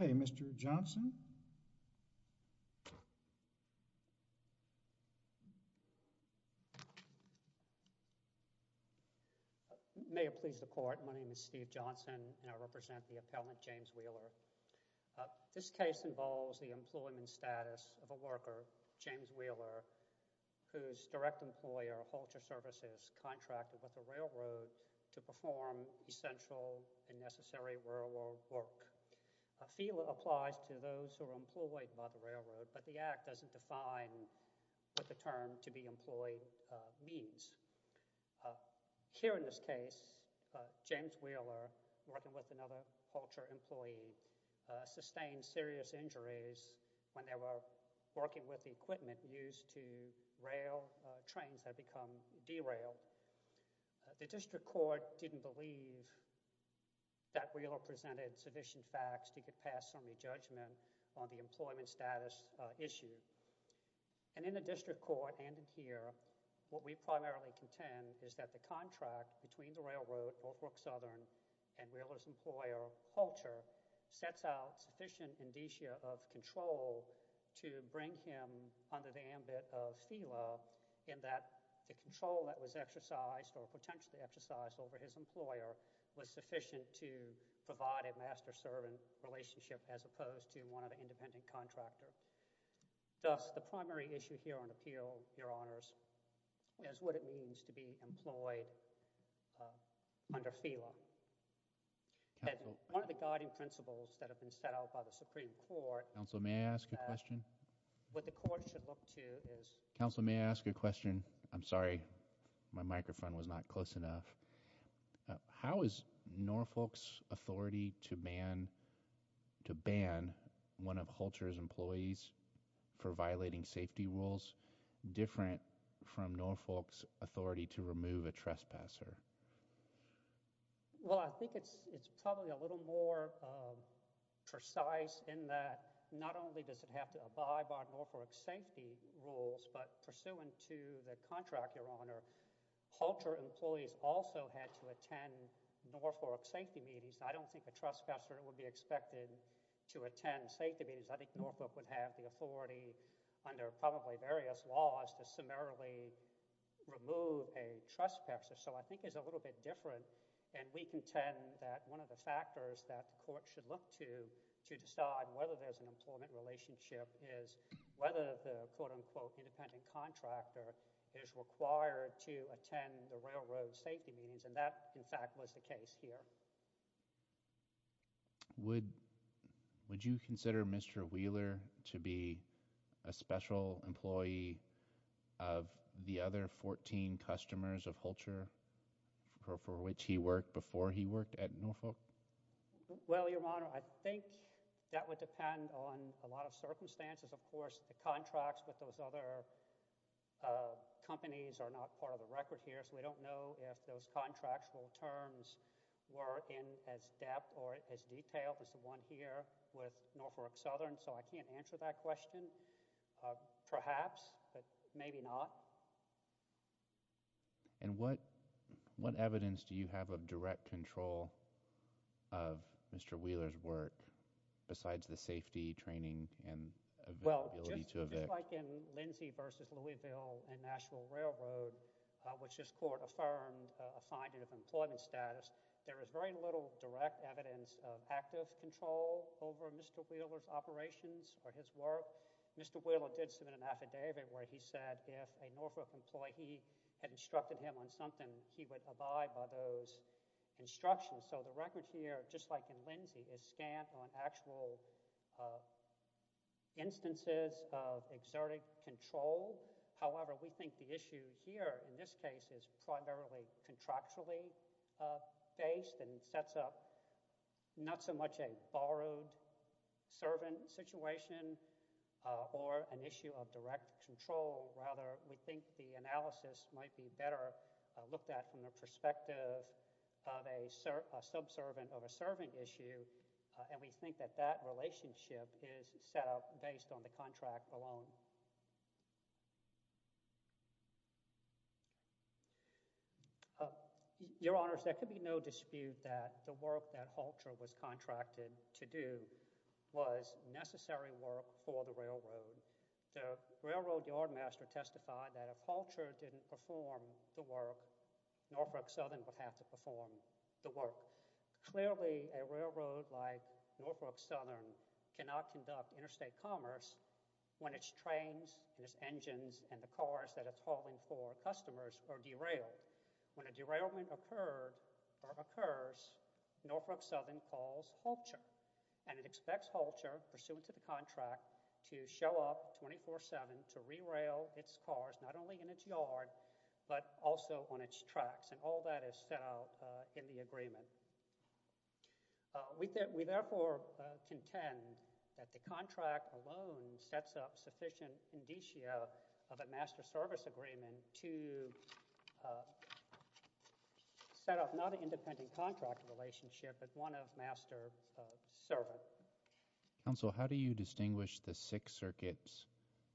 Okay, Mr. Johnson. May it please the court, my name is Steve Johnson and I represent the Wheeler v. Norfolk S Ry whose direct employer, Poultry Services, contracted with the railroad to perform essential and necessary railroad work. Feeler applies to those who are employed by the railroad, but the act doesn't define what the term to be employed means. Here in this case, James Wheeler, working with another Poultry employee, sustained serious injuries when they were working with the equipment used to rail trains that had become derailed. The district court didn't believe that Wheeler presented sufficient facts to get past some of the judgment on the employment status issue. And in the district court, and in here, what we primarily contend is that the contract between the railroad, Norfolk Southern, and to bring him under the ambit of Feeler in that the control that was exercised or potentially exercised over his employer was sufficient to provide a master-servant relationship as opposed to one of the independent contractors. Thus, the primary issue here on appeal, Your Honors, is what it means to be employed under Feeler. One of the guiding principles that the district court has in place is that if you're employed under Feeler, you have to have a master-servant relationship. If you're employed under Feeler, you have to have a master-servant relationship. And that's what we're trying to do here in this case, is to provide a master-servant relationship. We're trying to provide a master-servant relationship with Norfolk, and we're trying to provide a master-servant relationship with Feeler. So, I think that's one of the things that we're trying to do here in this case, is to provide a master-servant relationship with Norfolk, and we're trying to provide a master-servant relationship with Norfolk. The other thing that's in the master-servant relationship is whether the quote-unquote independent contractor is required to attend the railroad safety meetings, and that, in fact, was the case here. Would you consider Mr. Wheeler to be a special employee of the other 14 customers of Hulcher for which he worked before he worked at Norfolk? Well, Your Honor, I think that would depend on a lot of circumstances. Of course, the contracts with those other companies are not part of the record here, so we don't know if those contractual terms were in as depth or as detailed as the one here with Norfolk Southern, so I can't answer that question. Perhaps, but maybe not. And what evidence do you have of direct control of Mr. Wheeler's work besides the safety, training, and availability to evict? Well, just like in Lindsay v. Louisville and Nashville Railroad, which this Court affirmed a finding of employment status, there is very little direct evidence of active control over Mr. Wheeler's operations or his work. Mr. Wheeler did submit an affidavit where he said if a Norfolk employee had instructed him on something, he would abide by those instructions. So the record here, just like in Lindsay, is scant on actual instances of exerted control. However, we think the issue here in this case is primarily contractually based and sets up not so much a borrowed servant situation or an issue of direct control. Rather, we think the analysis might be better looked at from the perspective of a subservant of a servant issue, and we think that that relationship is set up based on the contract alone. Your Honors, there could be no dispute that the work that Halter was contracted to do was necessary work for the railroad. The railroad yardmaster testified that if Halter didn't perform the work, Norfolk Southern would have to perform the work. Clearly, a railroad like Norfolk Southern cannot conduct interstate commerce when it trains and its engines and the cars that it's hauling for customers are derailed. When a derailment occurs, Norfolk Southern calls Halter, and it expects Halter, pursuant to the contract, to show up 24-7 to rerail its cars, not only in its yard, but also on its tracks, and all that is set out in the agreement. We therefore contend that the contract alone sets up sufficient indicia of a master service agreement to set up not an independent contract relationship, but one of master servant. Counsel, how do you distinguish the Sixth Circuit's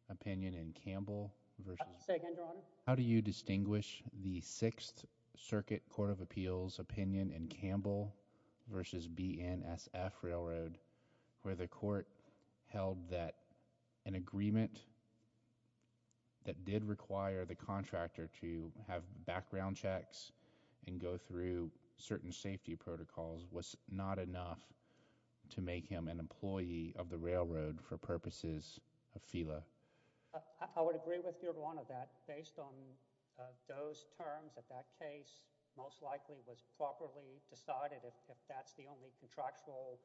opinion in Campbell versus— Say again, Your Honor? How do you distinguish the Sixth Circuit Court of Appeals opinion in Campbell versus BNSF Railroad, where the court held that an agreement that did require the contractor to have background checks and go through certain safety protocols was not enough to make him an employee of the railroad for purposes of FELA? I would agree with Your Honor that, based on those terms, that that case most likely was properly decided if that's the only contractual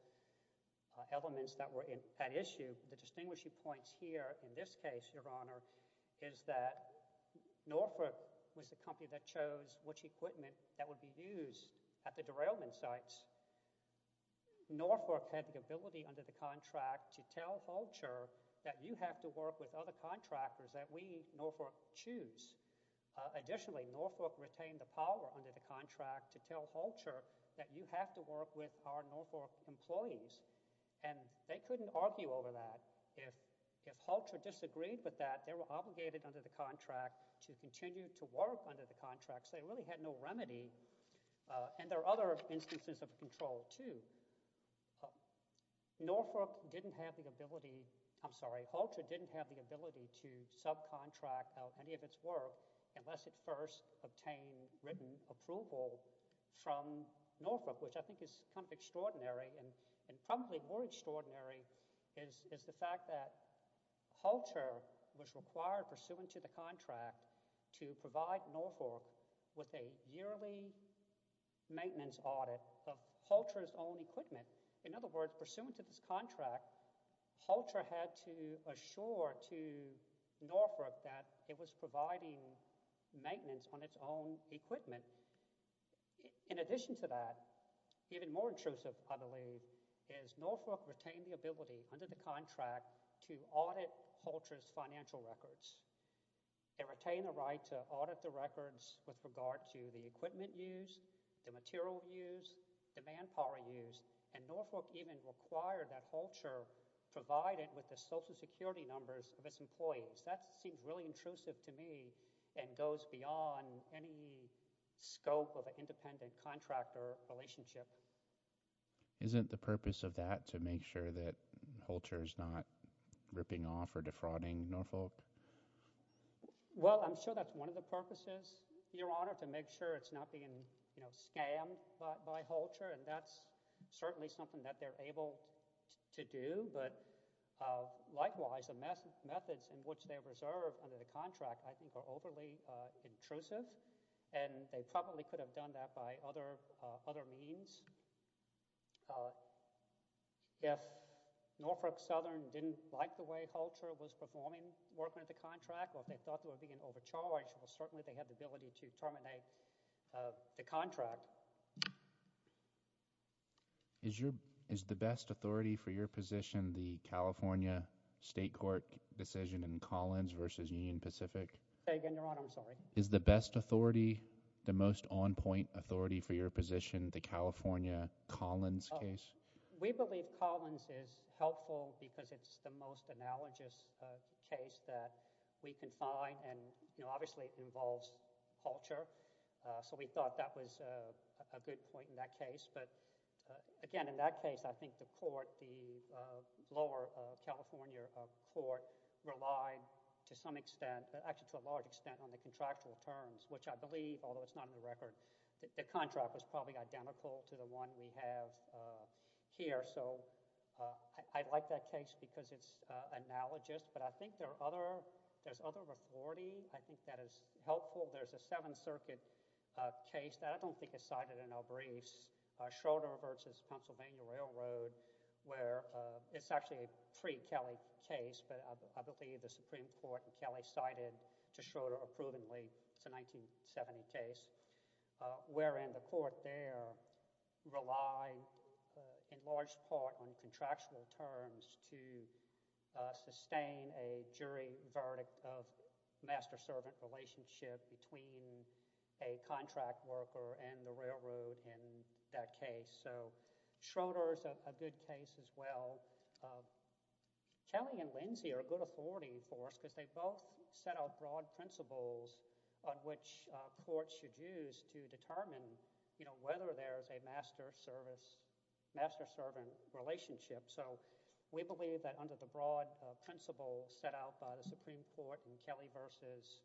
elements that were at issue. The distinguishing points here in this case, Your Honor, is that Norfolk was the company that chose which equipment that would be used at the derailment sites. Norfolk had the ability under the contract to tell Holcher that you have to work with other contractors that we, Norfolk, choose. Additionally, Norfolk retained the power under the contract to tell Holcher that you have to work with our Norfolk employees, and they couldn't argue over that. If Holcher disagreed with that, they were obligated under the contract to continue to And there are other instances of control, too. Norfolk didn't have the ability, I'm sorry, Holcher didn't have the ability to subcontract any of its work unless it first obtained written approval from Norfolk, which I think is kind of extraordinary, and probably more extraordinary is the fact that Holcher was required, pursuant to the contract, to provide Norfolk with a yearly maintenance audit of Holcher's own equipment. In other words, pursuant to this contract, Holcher had to assure to Norfolk that it was providing maintenance on its own equipment. In addition to that, even more intrusive, I believe, is Norfolk retained the ability under the contract to audit Holcher's financial records. They retained the right to audit the records with regard to the equipment used, the material used, the manpower used, and Norfolk even required that Holcher provide it with the social security numbers of its employees. That seems really intrusive to me and goes beyond any scope of an independent contractor relationship. Isn't the purpose of that to make sure that Holcher is not ripping off or defrauding Norfolk? Well, I'm sure that's one of the purposes, Your Honor, to make sure it's not being scammed by Holcher, and that's certainly something that they're able to do, but likewise, the methods in which they're reserved under the contract I think are overly intrusive, and they probably could have done that by other means. If Norfolk Southern didn't like the way Holcher was performing, working with the contract, or if they thought they were being overcharged, well, certainly they had the ability to terminate the contract. Is the best authority for your position the California State Court decision in Collins versus Union Pacific? Say again, Your Honor, I'm sorry. Is the best authority the most on point authority for your position, the California Collins case? We believe Collins is helpful because it's the most analogous case that we can find, and obviously it involves Holcher, so we thought that was a good point in that case, but again, in that case, I think the lower California court relied to some extent, actually to a large extent on the contractual terms, which I believe, although it's not in the record, the contract was probably identical to the one we have here, so I like that case because it's analogous, but I think there's other authority. I think that is helpful. There's a Seventh Circuit case that I don't think is cited in our briefs, Schroeder versus Pennsylvania Railroad, where it's actually a pre-Kelly case, but I believe the Supreme Court ruled Schroeder approvingly, it's a 1970 case, wherein the court there relied in large part on contractual terms to sustain a jury verdict of master-servant relationship between a contract worker and the railroad in that case, so Schroeder is a good case as well. Kelly and Lindsey are a good authority for us because they both set out broad principles on which courts should use to determine whether there's a master-servant relationship, so we believe that under the broad principles set out by the Supreme Court in Kelly versus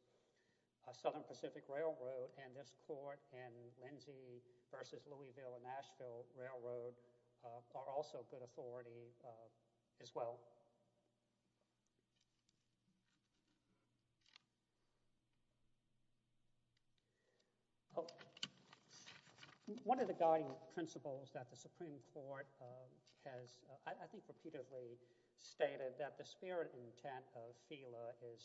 Southern Pacific Railroad and this court in Lindsey versus Louisville and Nashville Railroad are also good authority as well. One of the guiding principles that the Supreme Court has, I think, repeatedly stated that the spirit intent of FELA is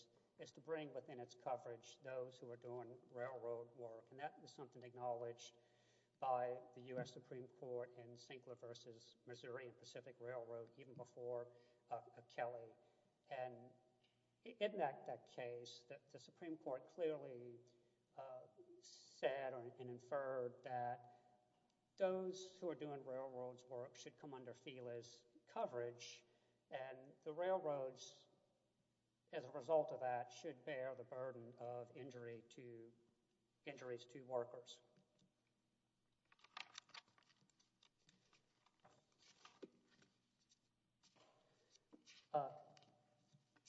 to bring within its coverage those who are doing railroad work and that is something acknowledged by the U.S. Supreme Court in Sinkler versus Missouri and Pacific Railroad even before Kelly and in that case, the Supreme Court clearly said and inferred that those who are doing railroad work should come under FELA's coverage and the railroads as a result of that should bear the burden of injuries to workers.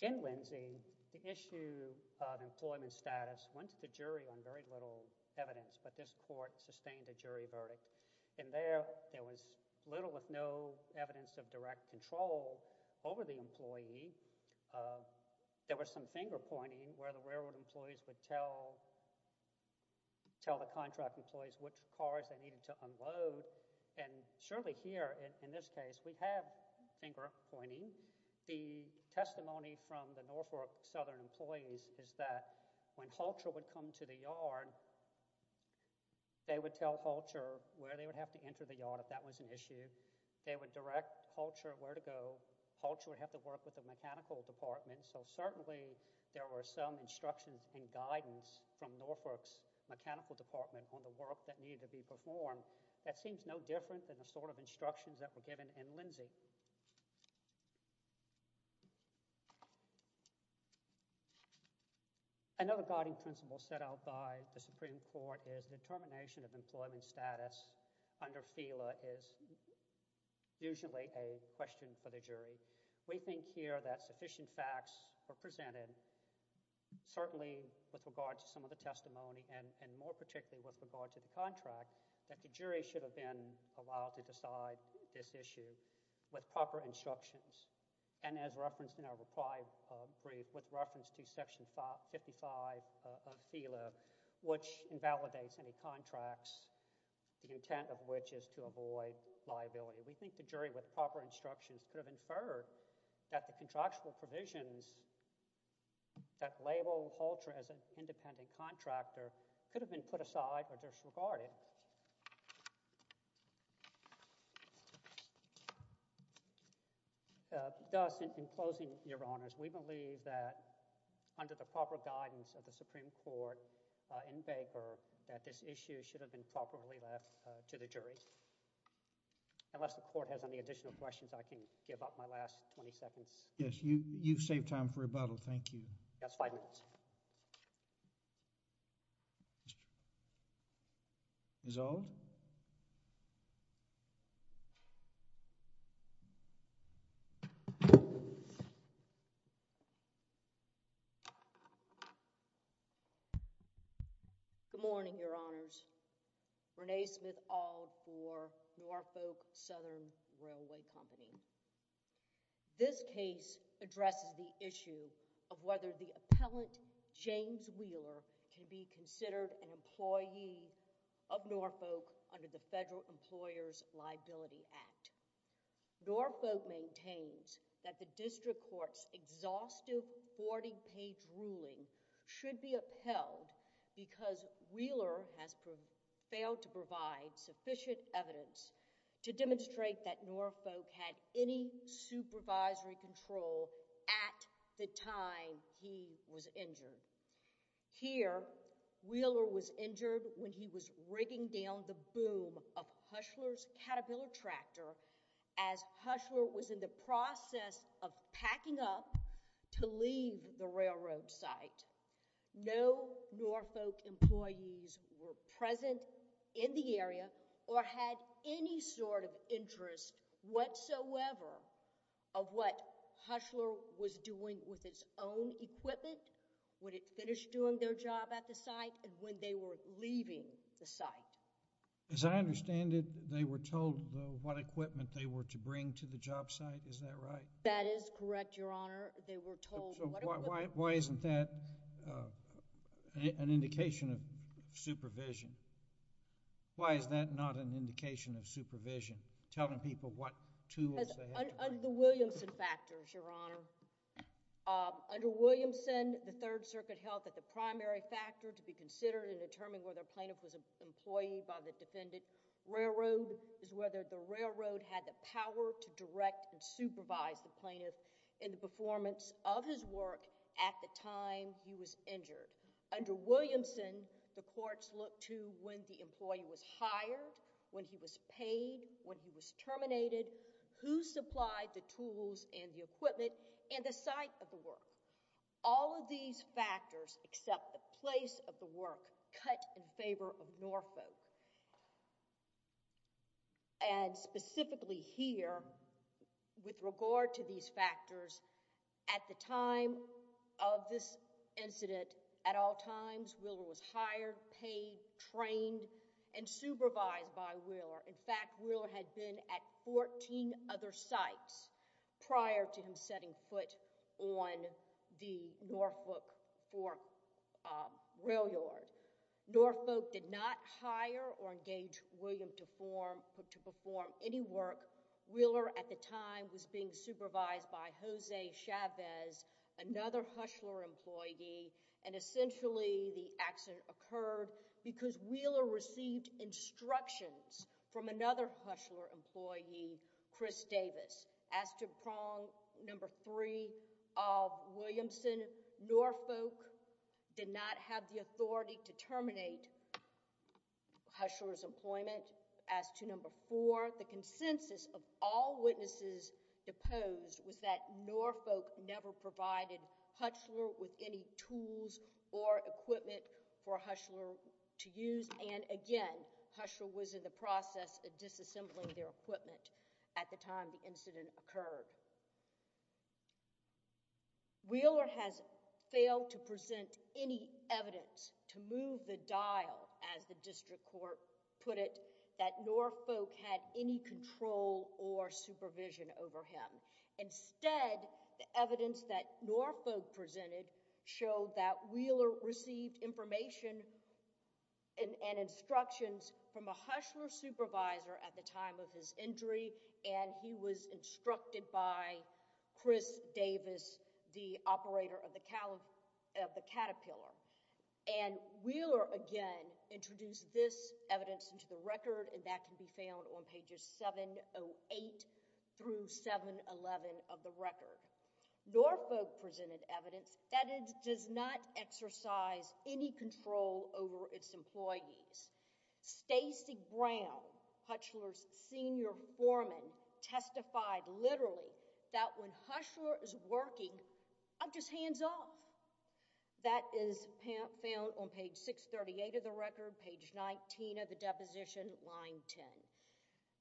In Lindsey, the issue of employment status went to the jury on very little evidence but this court sustained a jury verdict and there was little if no evidence of direct control over the employee. There was some finger-pointing where the railroad employees would tell the contract employees which cars they needed to unload and surely here in this case, we have finger-pointing. The testimony from the Northwark Southern employees is that when Halter would come to the yard, they would tell Halter where they would have to enter the yard if that was an issue. Halter would have to work with the mechanical department so certainly there were some instructions and guidance from Northwark's mechanical department on the work that needed to be performed. That seems no different than the sort of instructions that were given in Lindsey. Another guiding principle set out by the Supreme Court is determination of employment status under FELA is usually a question for the jury. We think here that sufficient facts were presented certainly with regards to some of the testimony and more particularly with regards to the contract that the jury should have been allowed to decide this issue with proper instructions and as referenced in our reply brief with which invalidates any contracts, the intent of which is to avoid liability. We think the jury with proper instructions could have inferred that the contractual provisions that label Halter as an independent contractor could have been put aside or disregarded. Thus, in closing, Your Honors, we believe that under the proper guidance of the Supreme Court in paper that this issue should have been properly left to the jury. Unless the Court has any additional questions, I can give up my last 20 seconds. Yes. You've saved time for rebuttal. Thank you. That's five minutes. Resolved? Good morning, Your Honors. Renee Smith-Ald for Norfolk Southern Railway Company. This case addresses the issue of whether the appellant, James Wheeler, can be considered an employee of Norfolk under the Federal Employer's Liability Act. Norfolk maintains that the district court's exhaustive 40-page ruling should be appealed because Wheeler has failed to provide sufficient evidence to demonstrate that Norfolk had any supervisory control at the time he was injured. Here, Wheeler was injured when he was rigging down the boom of Hushler's Caterpillar tractor as Hushler was in the process of packing up to leave the railroad site. No Norfolk employees were present in the area or had any sort of interest whatsoever of what Hushler was doing with its own equipment when it finished doing their job at the site and when they were leaving the site. As I understand it, they were told what equipment they were to bring to the job site. Is that right? That is correct, Your Honor. They were told what equipment... Why isn't that an indication of supervision? Why is that not an indication of supervision, telling people what tools they have to bring? Under the Williamson factors, Your Honor. Under Williamson, the Third Circuit held that the primary factor to be considered in determining whether a plaintiff was an employee by the defendant railroad is whether the railroad had the power to direct and supervise the plaintiff in the performance of his work at the time he was injured. Under Williamson, the courts looked to when the employee was hired, when he was paid, when he was terminated, who supplied the tools and the equipment, and the site of the work. All of these factors except the place of the work cut in favor of Norfolk. Specifically here, with regard to these factors, at the time of this incident, at all times, Wheeler was hired, paid, trained, and supervised by Wheeler. In fact, Wheeler had been at 14 other sites prior to him setting foot on the Norfolk Fork Rail Yard. Norfolk did not hire or engage William to perform any work. Wheeler, at the time, was being supervised by Jose Chavez, another Hushler employee, and essentially the accident occurred because Wheeler received instructions from another Hushler employee, Chris Davis. As to prong number three of Williamson, Norfolk did not have the authority to terminate Hushler's employment. As to number four, the consensus of all witnesses deposed was that Norfolk never provided Hushler with any tools or equipment for Hushler to use. Again, Hushler was in the process of disassembling their equipment at the time the incident occurred. Wheeler has failed to present any evidence to move the dial, as the district court put it, that Norfolk had any control or supervision over him. Instead, the evidence that Norfolk presented showed that Wheeler received information and instructions from a Hushler supervisor at the time of his injury, and he was instructed by Chris Davis, the operator of the Caterpillar. And Wheeler, again, introduced this evidence into the record, and that can be found on pages 708 through 711 of the record. Norfolk presented evidence that it does not exercise any control over its employees. Stacey Brown, Hushler's senior foreman, testified literally that when Hushler is working, I'm just hands off. That is found on page 638 of the record, page 19 of the deposition, line 10.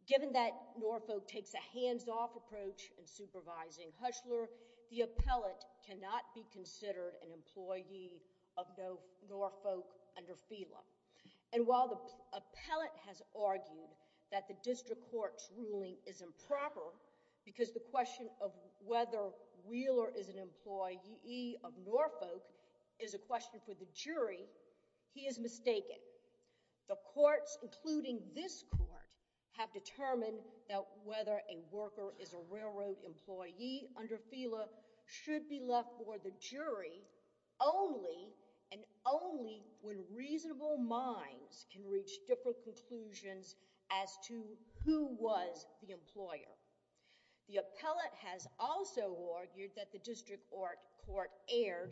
Given that Norfolk takes a hands-off approach in supervising Hushler, the appellate cannot be considered an employee of Norfolk under FELA. And while the appellate has argued that the district court's ruling is improper because the question of whether Wheeler is an employee of Norfolk is a question for the jury, he is mistaken. The courts, including this court, have determined that whether a worker is a railroad employee under FELA should be left for the jury only and only when reasonable minds can reach different conclusions as to who was the employer. The appellate has also argued that the district court erred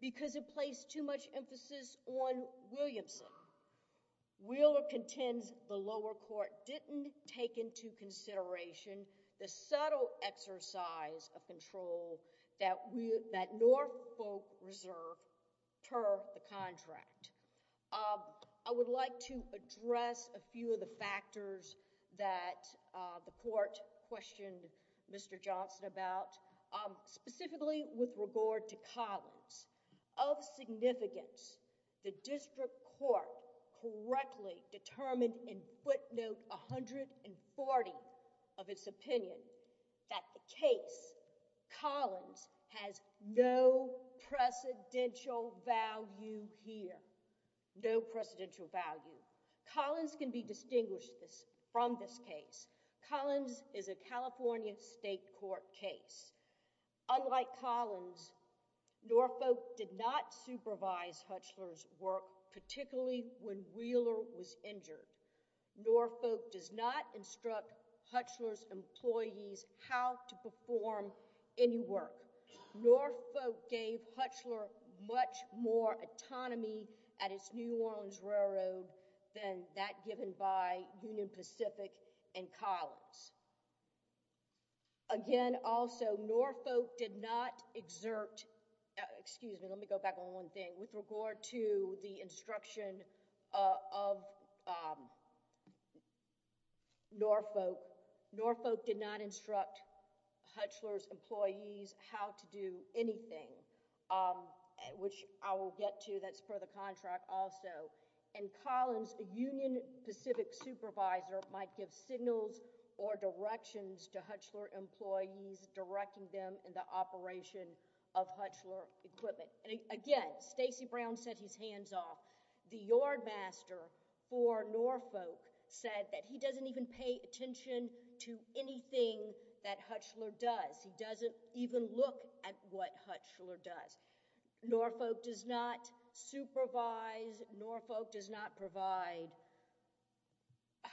because it placed too much emphasis on Williamson. Wheeler contends the lower court didn't take into consideration the subtle exercise of control that Norfolk reserved per the contract. I would like to address a few of the factors that the court questioned Mr. Johnson about, specifically with regard to Collins. Of significance, the district court correctly determined in footnote 140 of its opinion that the case Collins has no precedential value here. No precedential value. Collins can be distinguished from this case. Collins is a California state court case. Unlike Collins, Norfolk did not supervise Hushler's work, particularly when Wheeler was injured. Norfolk does not instruct Hushler's employees how to perform any work. Norfolk gave Hushler much more autonomy at its New Orleans Railroad than that given by Union Pacific and Collins. Again, also, Norfolk did not exert—excuse me, let me go back on one thing. With regard to the instruction of Norfolk, Norfolk did not instruct Hushler's employees how to do anything, which I will get to. That's per the contract also. In Collins, a Union Pacific supervisor might give signals or directions to Hushler employees, directing them in the operation of Hushler equipment. Again, Stacey Brown said he's hands off. The yardmaster for Norfolk said that he doesn't even pay attention to anything that Hushler does. He doesn't even look at what Hushler does. Norfolk does not supervise, Norfolk does not provide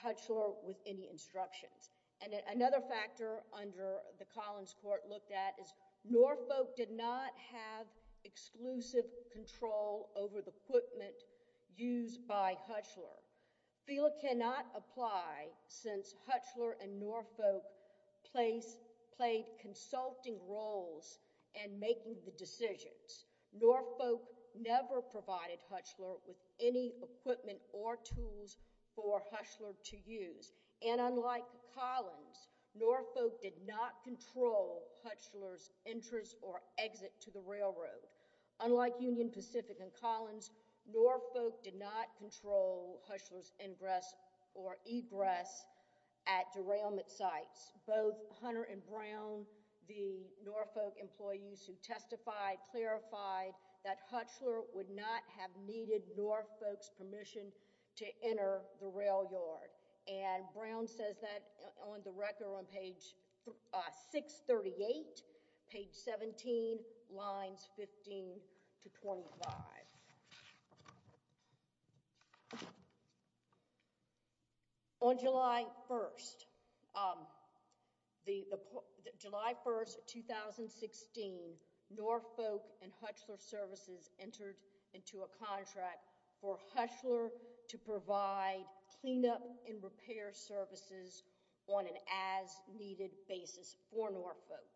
Hushler with any instructions. And another factor under the Collins court looked at is Norfolk did not have exclusive control over the equipment used by Hushler. FELA cannot apply since Hushler and Norfolk played consulting roles in making the decisions. Norfolk never provided Hushler with any equipment or tools for Hushler to use. And unlike Collins, Norfolk did not control Hushler's entrance or exit to the railroad. Unlike Union Pacific and Collins, Norfolk did not control Hushler's ingress or egress at derailment sites. Both Hunter and Brown, the Norfolk employees who testified, clarified that Hushler would not have needed Norfolk's permission to enter the rail yard. And Brown says that on the record on page 638, page 17, lines 15 to 25. On July 1st, 2016, Norfolk and Hushler Services entered into a contract for Hushler to provide cleanup and repair services on an as-needed basis for Norfolk.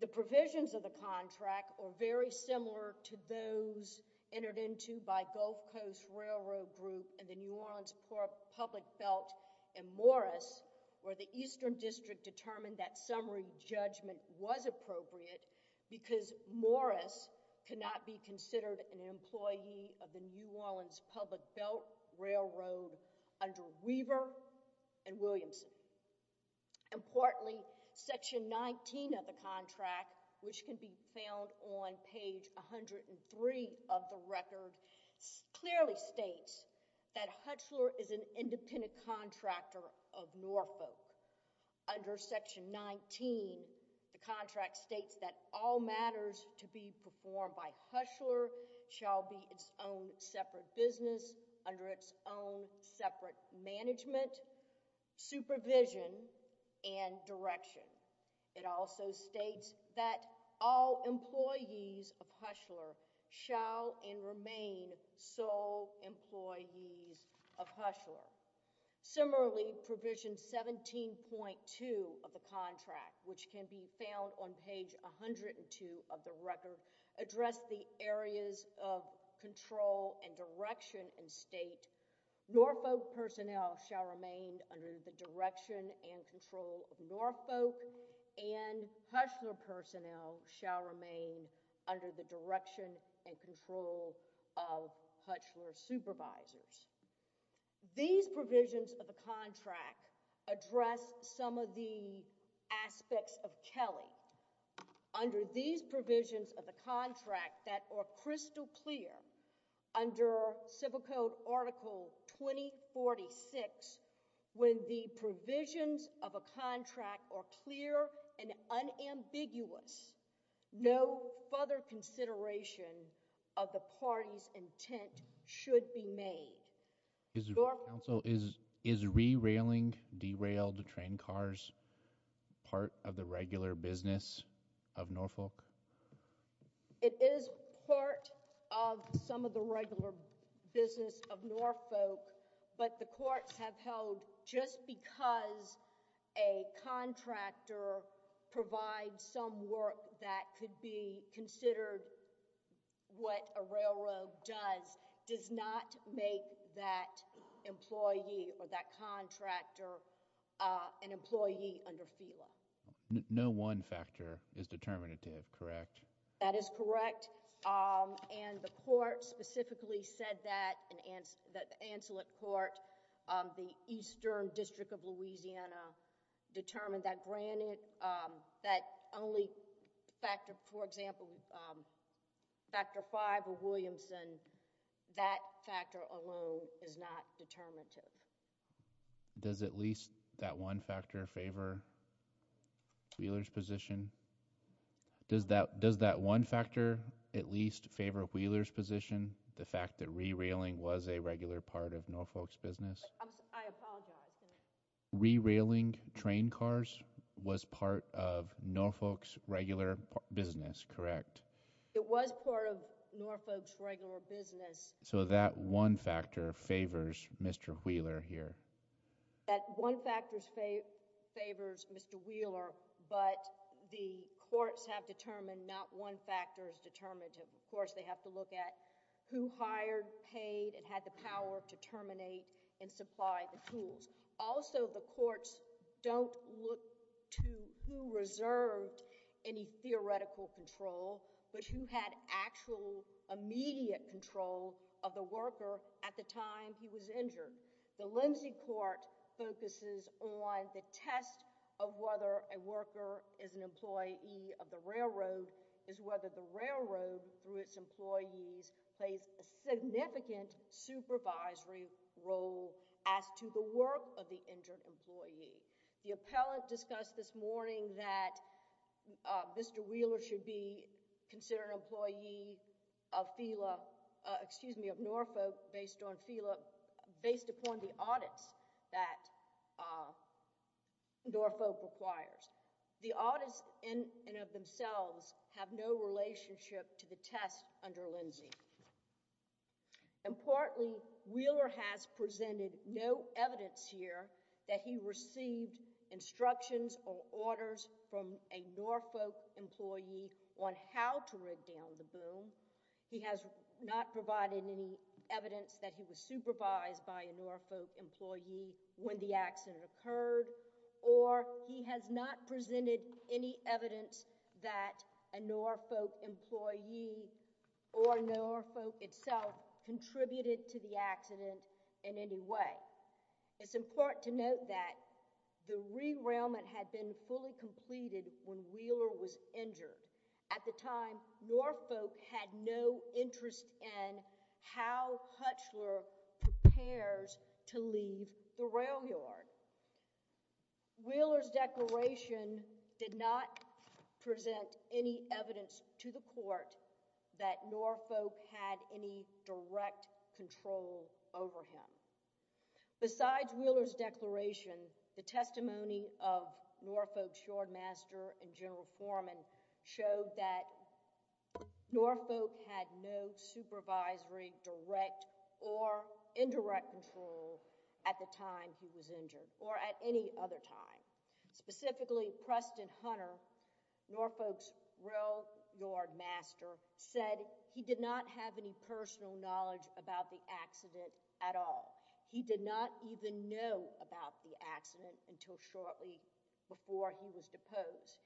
The provisions of the contract are very similar to those entered into by Gulf Coast Railroad Group and the New Orleans Public Belt and Morris, where the Eastern District determined that summary judgment was appropriate because Morris could not be considered an employee of the New Orleans Public Belt Railroad under Weaver and Williamson. Importantly, section 19 of the contract, which can be found on page 103 of the record, clearly states that Hushler is an independent contractor of Norfolk. Under section 19, the contract states that all matters to be performed by Hushler shall be its own separate business under its own separate management, supervision, and direction. It also states that all employees of Hushler shall and remain sole employees of Hushler. Similarly, provision 17.2 of the contract, which can be found on page 102 of the record, address the areas of control and direction and state, Norfolk personnel shall remain under the direction and control of Norfolk and Hushler personnel shall remain under the direction and control of Hushler supervisors. These provisions of the contract address some of the aspects of Kelly. Under these provisions of the contract that are crystal clear under Civil Code Article 2046, when the provisions of a contract are clear and unambiguous, no further consideration of the party's intent should be made. Is re-railing derailed train cars part of the regular business of Norfolk? It is part of some of the regular business of Norfolk, but the courts have held just because a contractor provides some work that could be considered what a railroad does, does not make that employee or that contractor an employee under FELA. No one factor is determinative, correct? That is correct, and the court specifically said that, that the ancillary court, the Eastern District of Louisiana, determined that granted that only factor, for example, factor five of Williamson, that factor alone is not determinative. Does at least that one factor favor Wheeler's position? Does that one factor at least favor Wheeler's position, the fact that re-railing was a regular part of Norfolk's business? I apologize. Re-railing train cars was part of Norfolk's regular business, correct? It was part of Norfolk's regular business. So that one factor favors Mr. Wheeler here? That one factor favors Mr. Wheeler, but the courts have determined not one factor is determinative. Of course, they have to look at who hired, paid, and had the power to terminate and supply the tools. Also, the courts don't look to who reserved any theoretical control, but who had actual immediate control of the worker at the time he was injured. The Lindsay Court focuses on the test of whether a worker is an employee of the railroad is whether the railroad, through its employees, plays a significant supervisory role as to the work of the injured employee. The appellate discussed this morning that Mr. Wheeler should be considered an employee of Norfolk based upon the audits that Norfolk requires. The audits in and of themselves have no relationship to the test under Lindsay. Importantly, Wheeler has presented no evidence here that he received instructions or orders from a Norfolk employee on how to rig down the boom. He has not provided any evidence that he was supervised by a Norfolk employee when the accident occurred, or he has not presented any evidence that a Norfolk employee or Norfolk itself contributed to the accident in any way. It's important to note that the rerailment had been fully completed when Wheeler was injured. At the time, Norfolk had no interest in how Hutchler prepares to leave the rail yard. Wheeler's declaration did not present any evidence to the court that Norfolk had any direct control over him. Besides Wheeler's declaration, the testimony of Norfolk's yardmaster and general foreman showed that Norfolk had no supervisory direct or indirect control at the time he was injured or at any other time. Specifically, Preston Hunter, Norfolk's rail yardmaster, said he did not have any personal knowledge about the accident at all. He did not even know about the accident until shortly before he was deposed.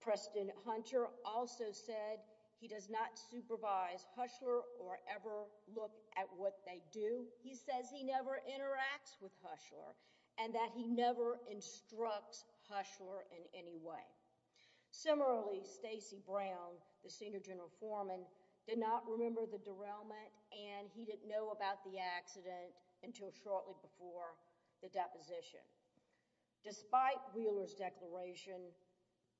Preston Hunter also said he does not supervise Hutchler or ever look at what they do. He says he never interacts with Hutchler and that he never instructs Hutchler in any way. Similarly, Stacy Brown, the senior general foreman, did not remember the derailment and he didn't know about the accident until shortly before the deposition. Despite Wheeler's declaration,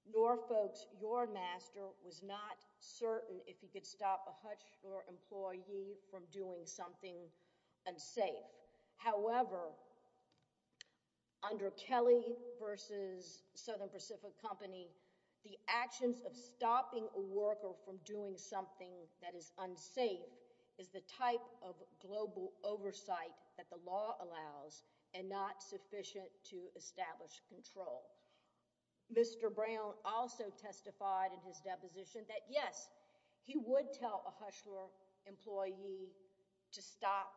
Norfolk's yardmaster was not certain if he could stop a Hutchler employee from doing something unsafe. However, under Kelly v. Southern Pacific Company, the actions of stopping a worker from doing something that is unsafe is the type of global oversight that the law allows and not sufficient to establish control. Mr. Brown also testified in his deposition that, yes, he would tell a Hutchler employee to stop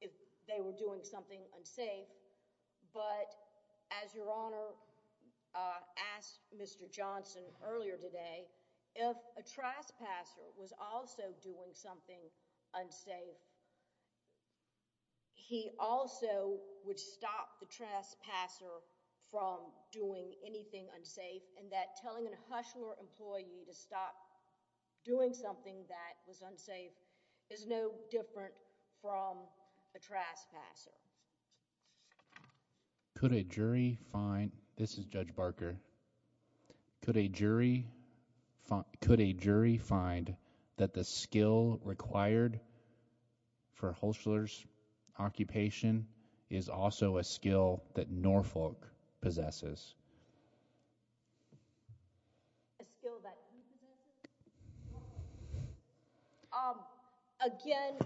if they were doing something unsafe, but as Your Honor asked Mr. Johnson earlier today, if a trespasser was also doing something unsafe, he also would stop the trespasser from doing anything unsafe and that telling a Hutchler employee to stop doing something that was unsafe is no different from a trespasser. Could a jury find, this is Judge Barker, could a jury find that the skill required for Hutchler's occupation is also a skill that Norfolk possesses? A skill that he possesses? Again,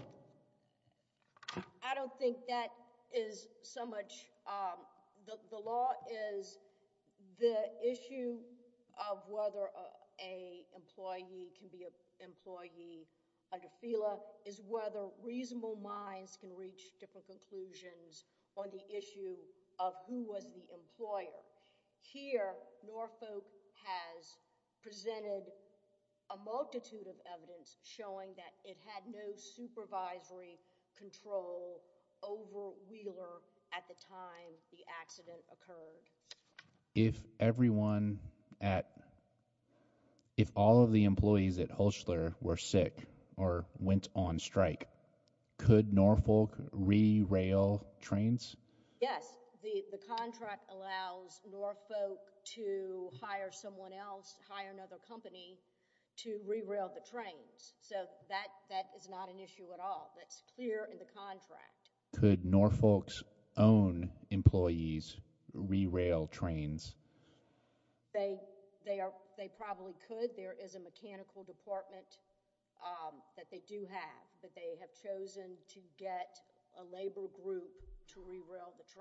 I don't think that is so much, the law is the issue of whether an employee can be an employee under FELA is whether reasonable minds can reach different conclusions on the issue of who was the employer. Here Norfolk has presented a multitude of evidence showing that it had no supervisory control over Wheeler at the time the accident occurred. If everyone at, if all of the employees at Hutchler were sick or went on strike, could Norfolk re-rail trains? Yes, the contract allows Norfolk to hire someone else, hire another company to re-rail the trains. So that is not an issue at all. That's clear in the contract. Could Norfolk's own employees re-rail trains? They probably could. There is a mechanical department that they do have but they have chosen to get a labor group to re-rail the trains.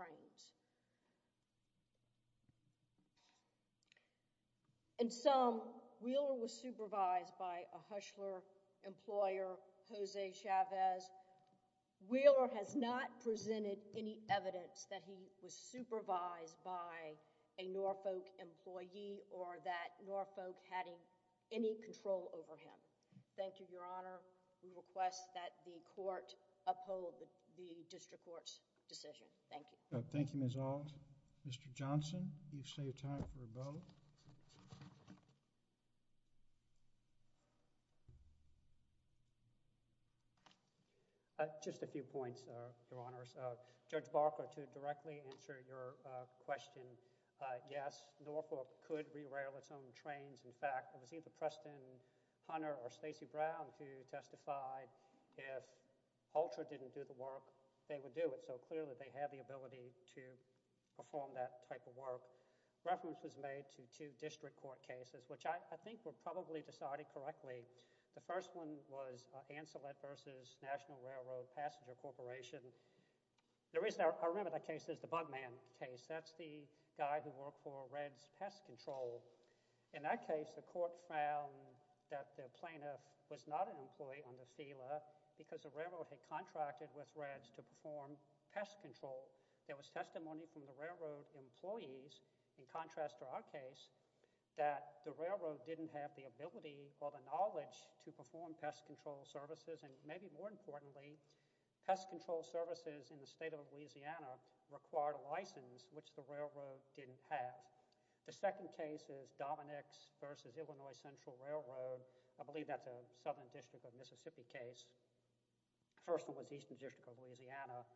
In sum, Wheeler was supervised by a Hutchler employer, Jose Chavez. Wheeler has not presented any evidence that he was supervised by a Norfolk employee or that Norfolk had any control over him. Thank you, Your Honor. We request that the court uphold the district court's decision. Thank you. Thank you, Ms. Ault. Mr. Johnson, you've saved time for a vote. Just a few points, Your Honors. Judge Barker, to directly answer your question, yes, Norfolk could re-rail its own trains. In fact, it was either Preston Hunter or Stacey Brown who testified if Hutchler didn't do the work, they would do it. So clearly they have the ability to perform that type of work. Reference was made to two district court cases which I think were probably decided correctly. The first one was Anselette v. National Railroad Passenger Corporation. The reason I remember that case is the bug man case. That's the guy who worked for Red's Pest Control. In that case, the court found that the plaintiff was not an employee on the SELA because the railroad had contracted with Red's to perform pest control. There was testimony from the railroad employees, in contrast to our case, that the railroad didn't have the ability or the knowledge to perform pest control services, and maybe more importantly, pest control services in the state of Louisiana required a license which the railroad didn't have. The second case is Dominick's v. Illinois Central Railroad. I believe that's a Southern District of Mississippi case. The first one was Eastern District of Louisiana.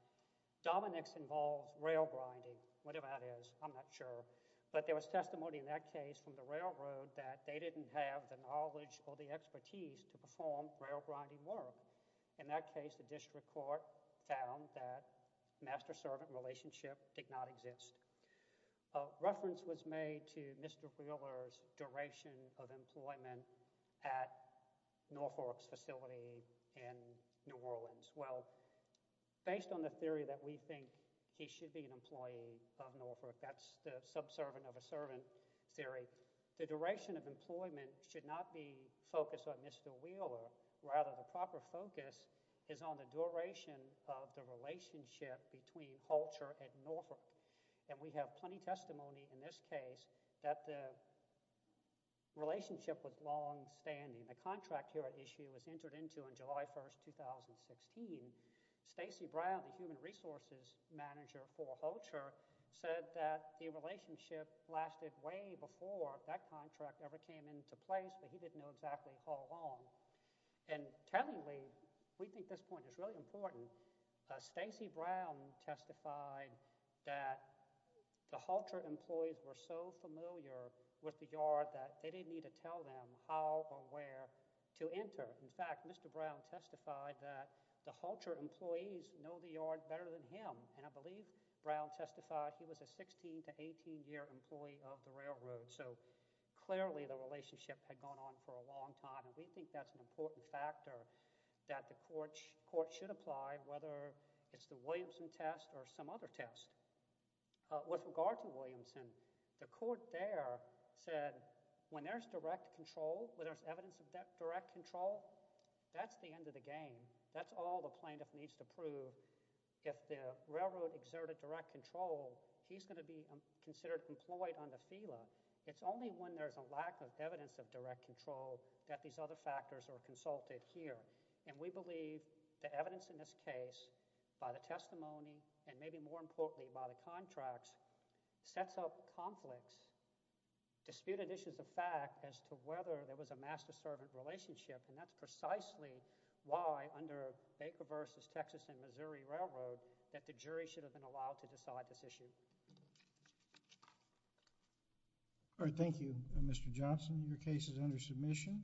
Dominick's involved rail grinding, whatever that is. I'm not sure. But there was testimony in that case from the railroad that they didn't have the knowledge or the expertise to perform rail grinding work. In that case, the district court found that master-servant relationship did not exist. A reference was made to Mr. Wheeler's duration of employment at Norfolk's facility in New Orleans. Well, based on the theory that we think he should be an employee of Norfolk, that's the subservient-of-a-servant theory, the duration of employment should not be focused on Mr. Wheeler. Rather, the proper focus is on the duration of the relationship between Holcher and Norfolk. And we have plenty of testimony in this case that the relationship was longstanding. The contract here at issue was entered into on July 1, 2016. Stacey Brown, the human resources manager for Holcher, said that the relationship lasted way before that contract ever came into place, but he didn't know exactly how long. And tellingly, we think this point is really important. Stacey Brown testified that the Holcher employees were so familiar with the yard that they didn't need to tell them how or where to enter. In fact, Mr. Brown testified that the Holcher employees know the yard better than him, and I believe Brown testified he was a 16- to 18-year employee of the railroad. So clearly the relationship had gone on for a long time, and we think that's an important factor that the court should apply, whether it's the Williamson test or some other test. With regard to Williamson, the court there said when there's direct control, when there's evidence of direct control, that's the end of the game. That's all the plaintiff needs to prove. If the railroad exerted direct control, he's going to be considered employed on the FILA. It's only when there's a lack of evidence of direct control that these other factors are consulted here. We believe the evidence in this case by the testimony and maybe more importantly by the contracts sets up conflicts, disputed issues of fact as to whether there was a master-servant relationship, and that's precisely why under Baker v. Texas and Missouri Railroad that the jury should have been allowed to decide this issue. Thank you, Mr. Johnson. Your case is under submission.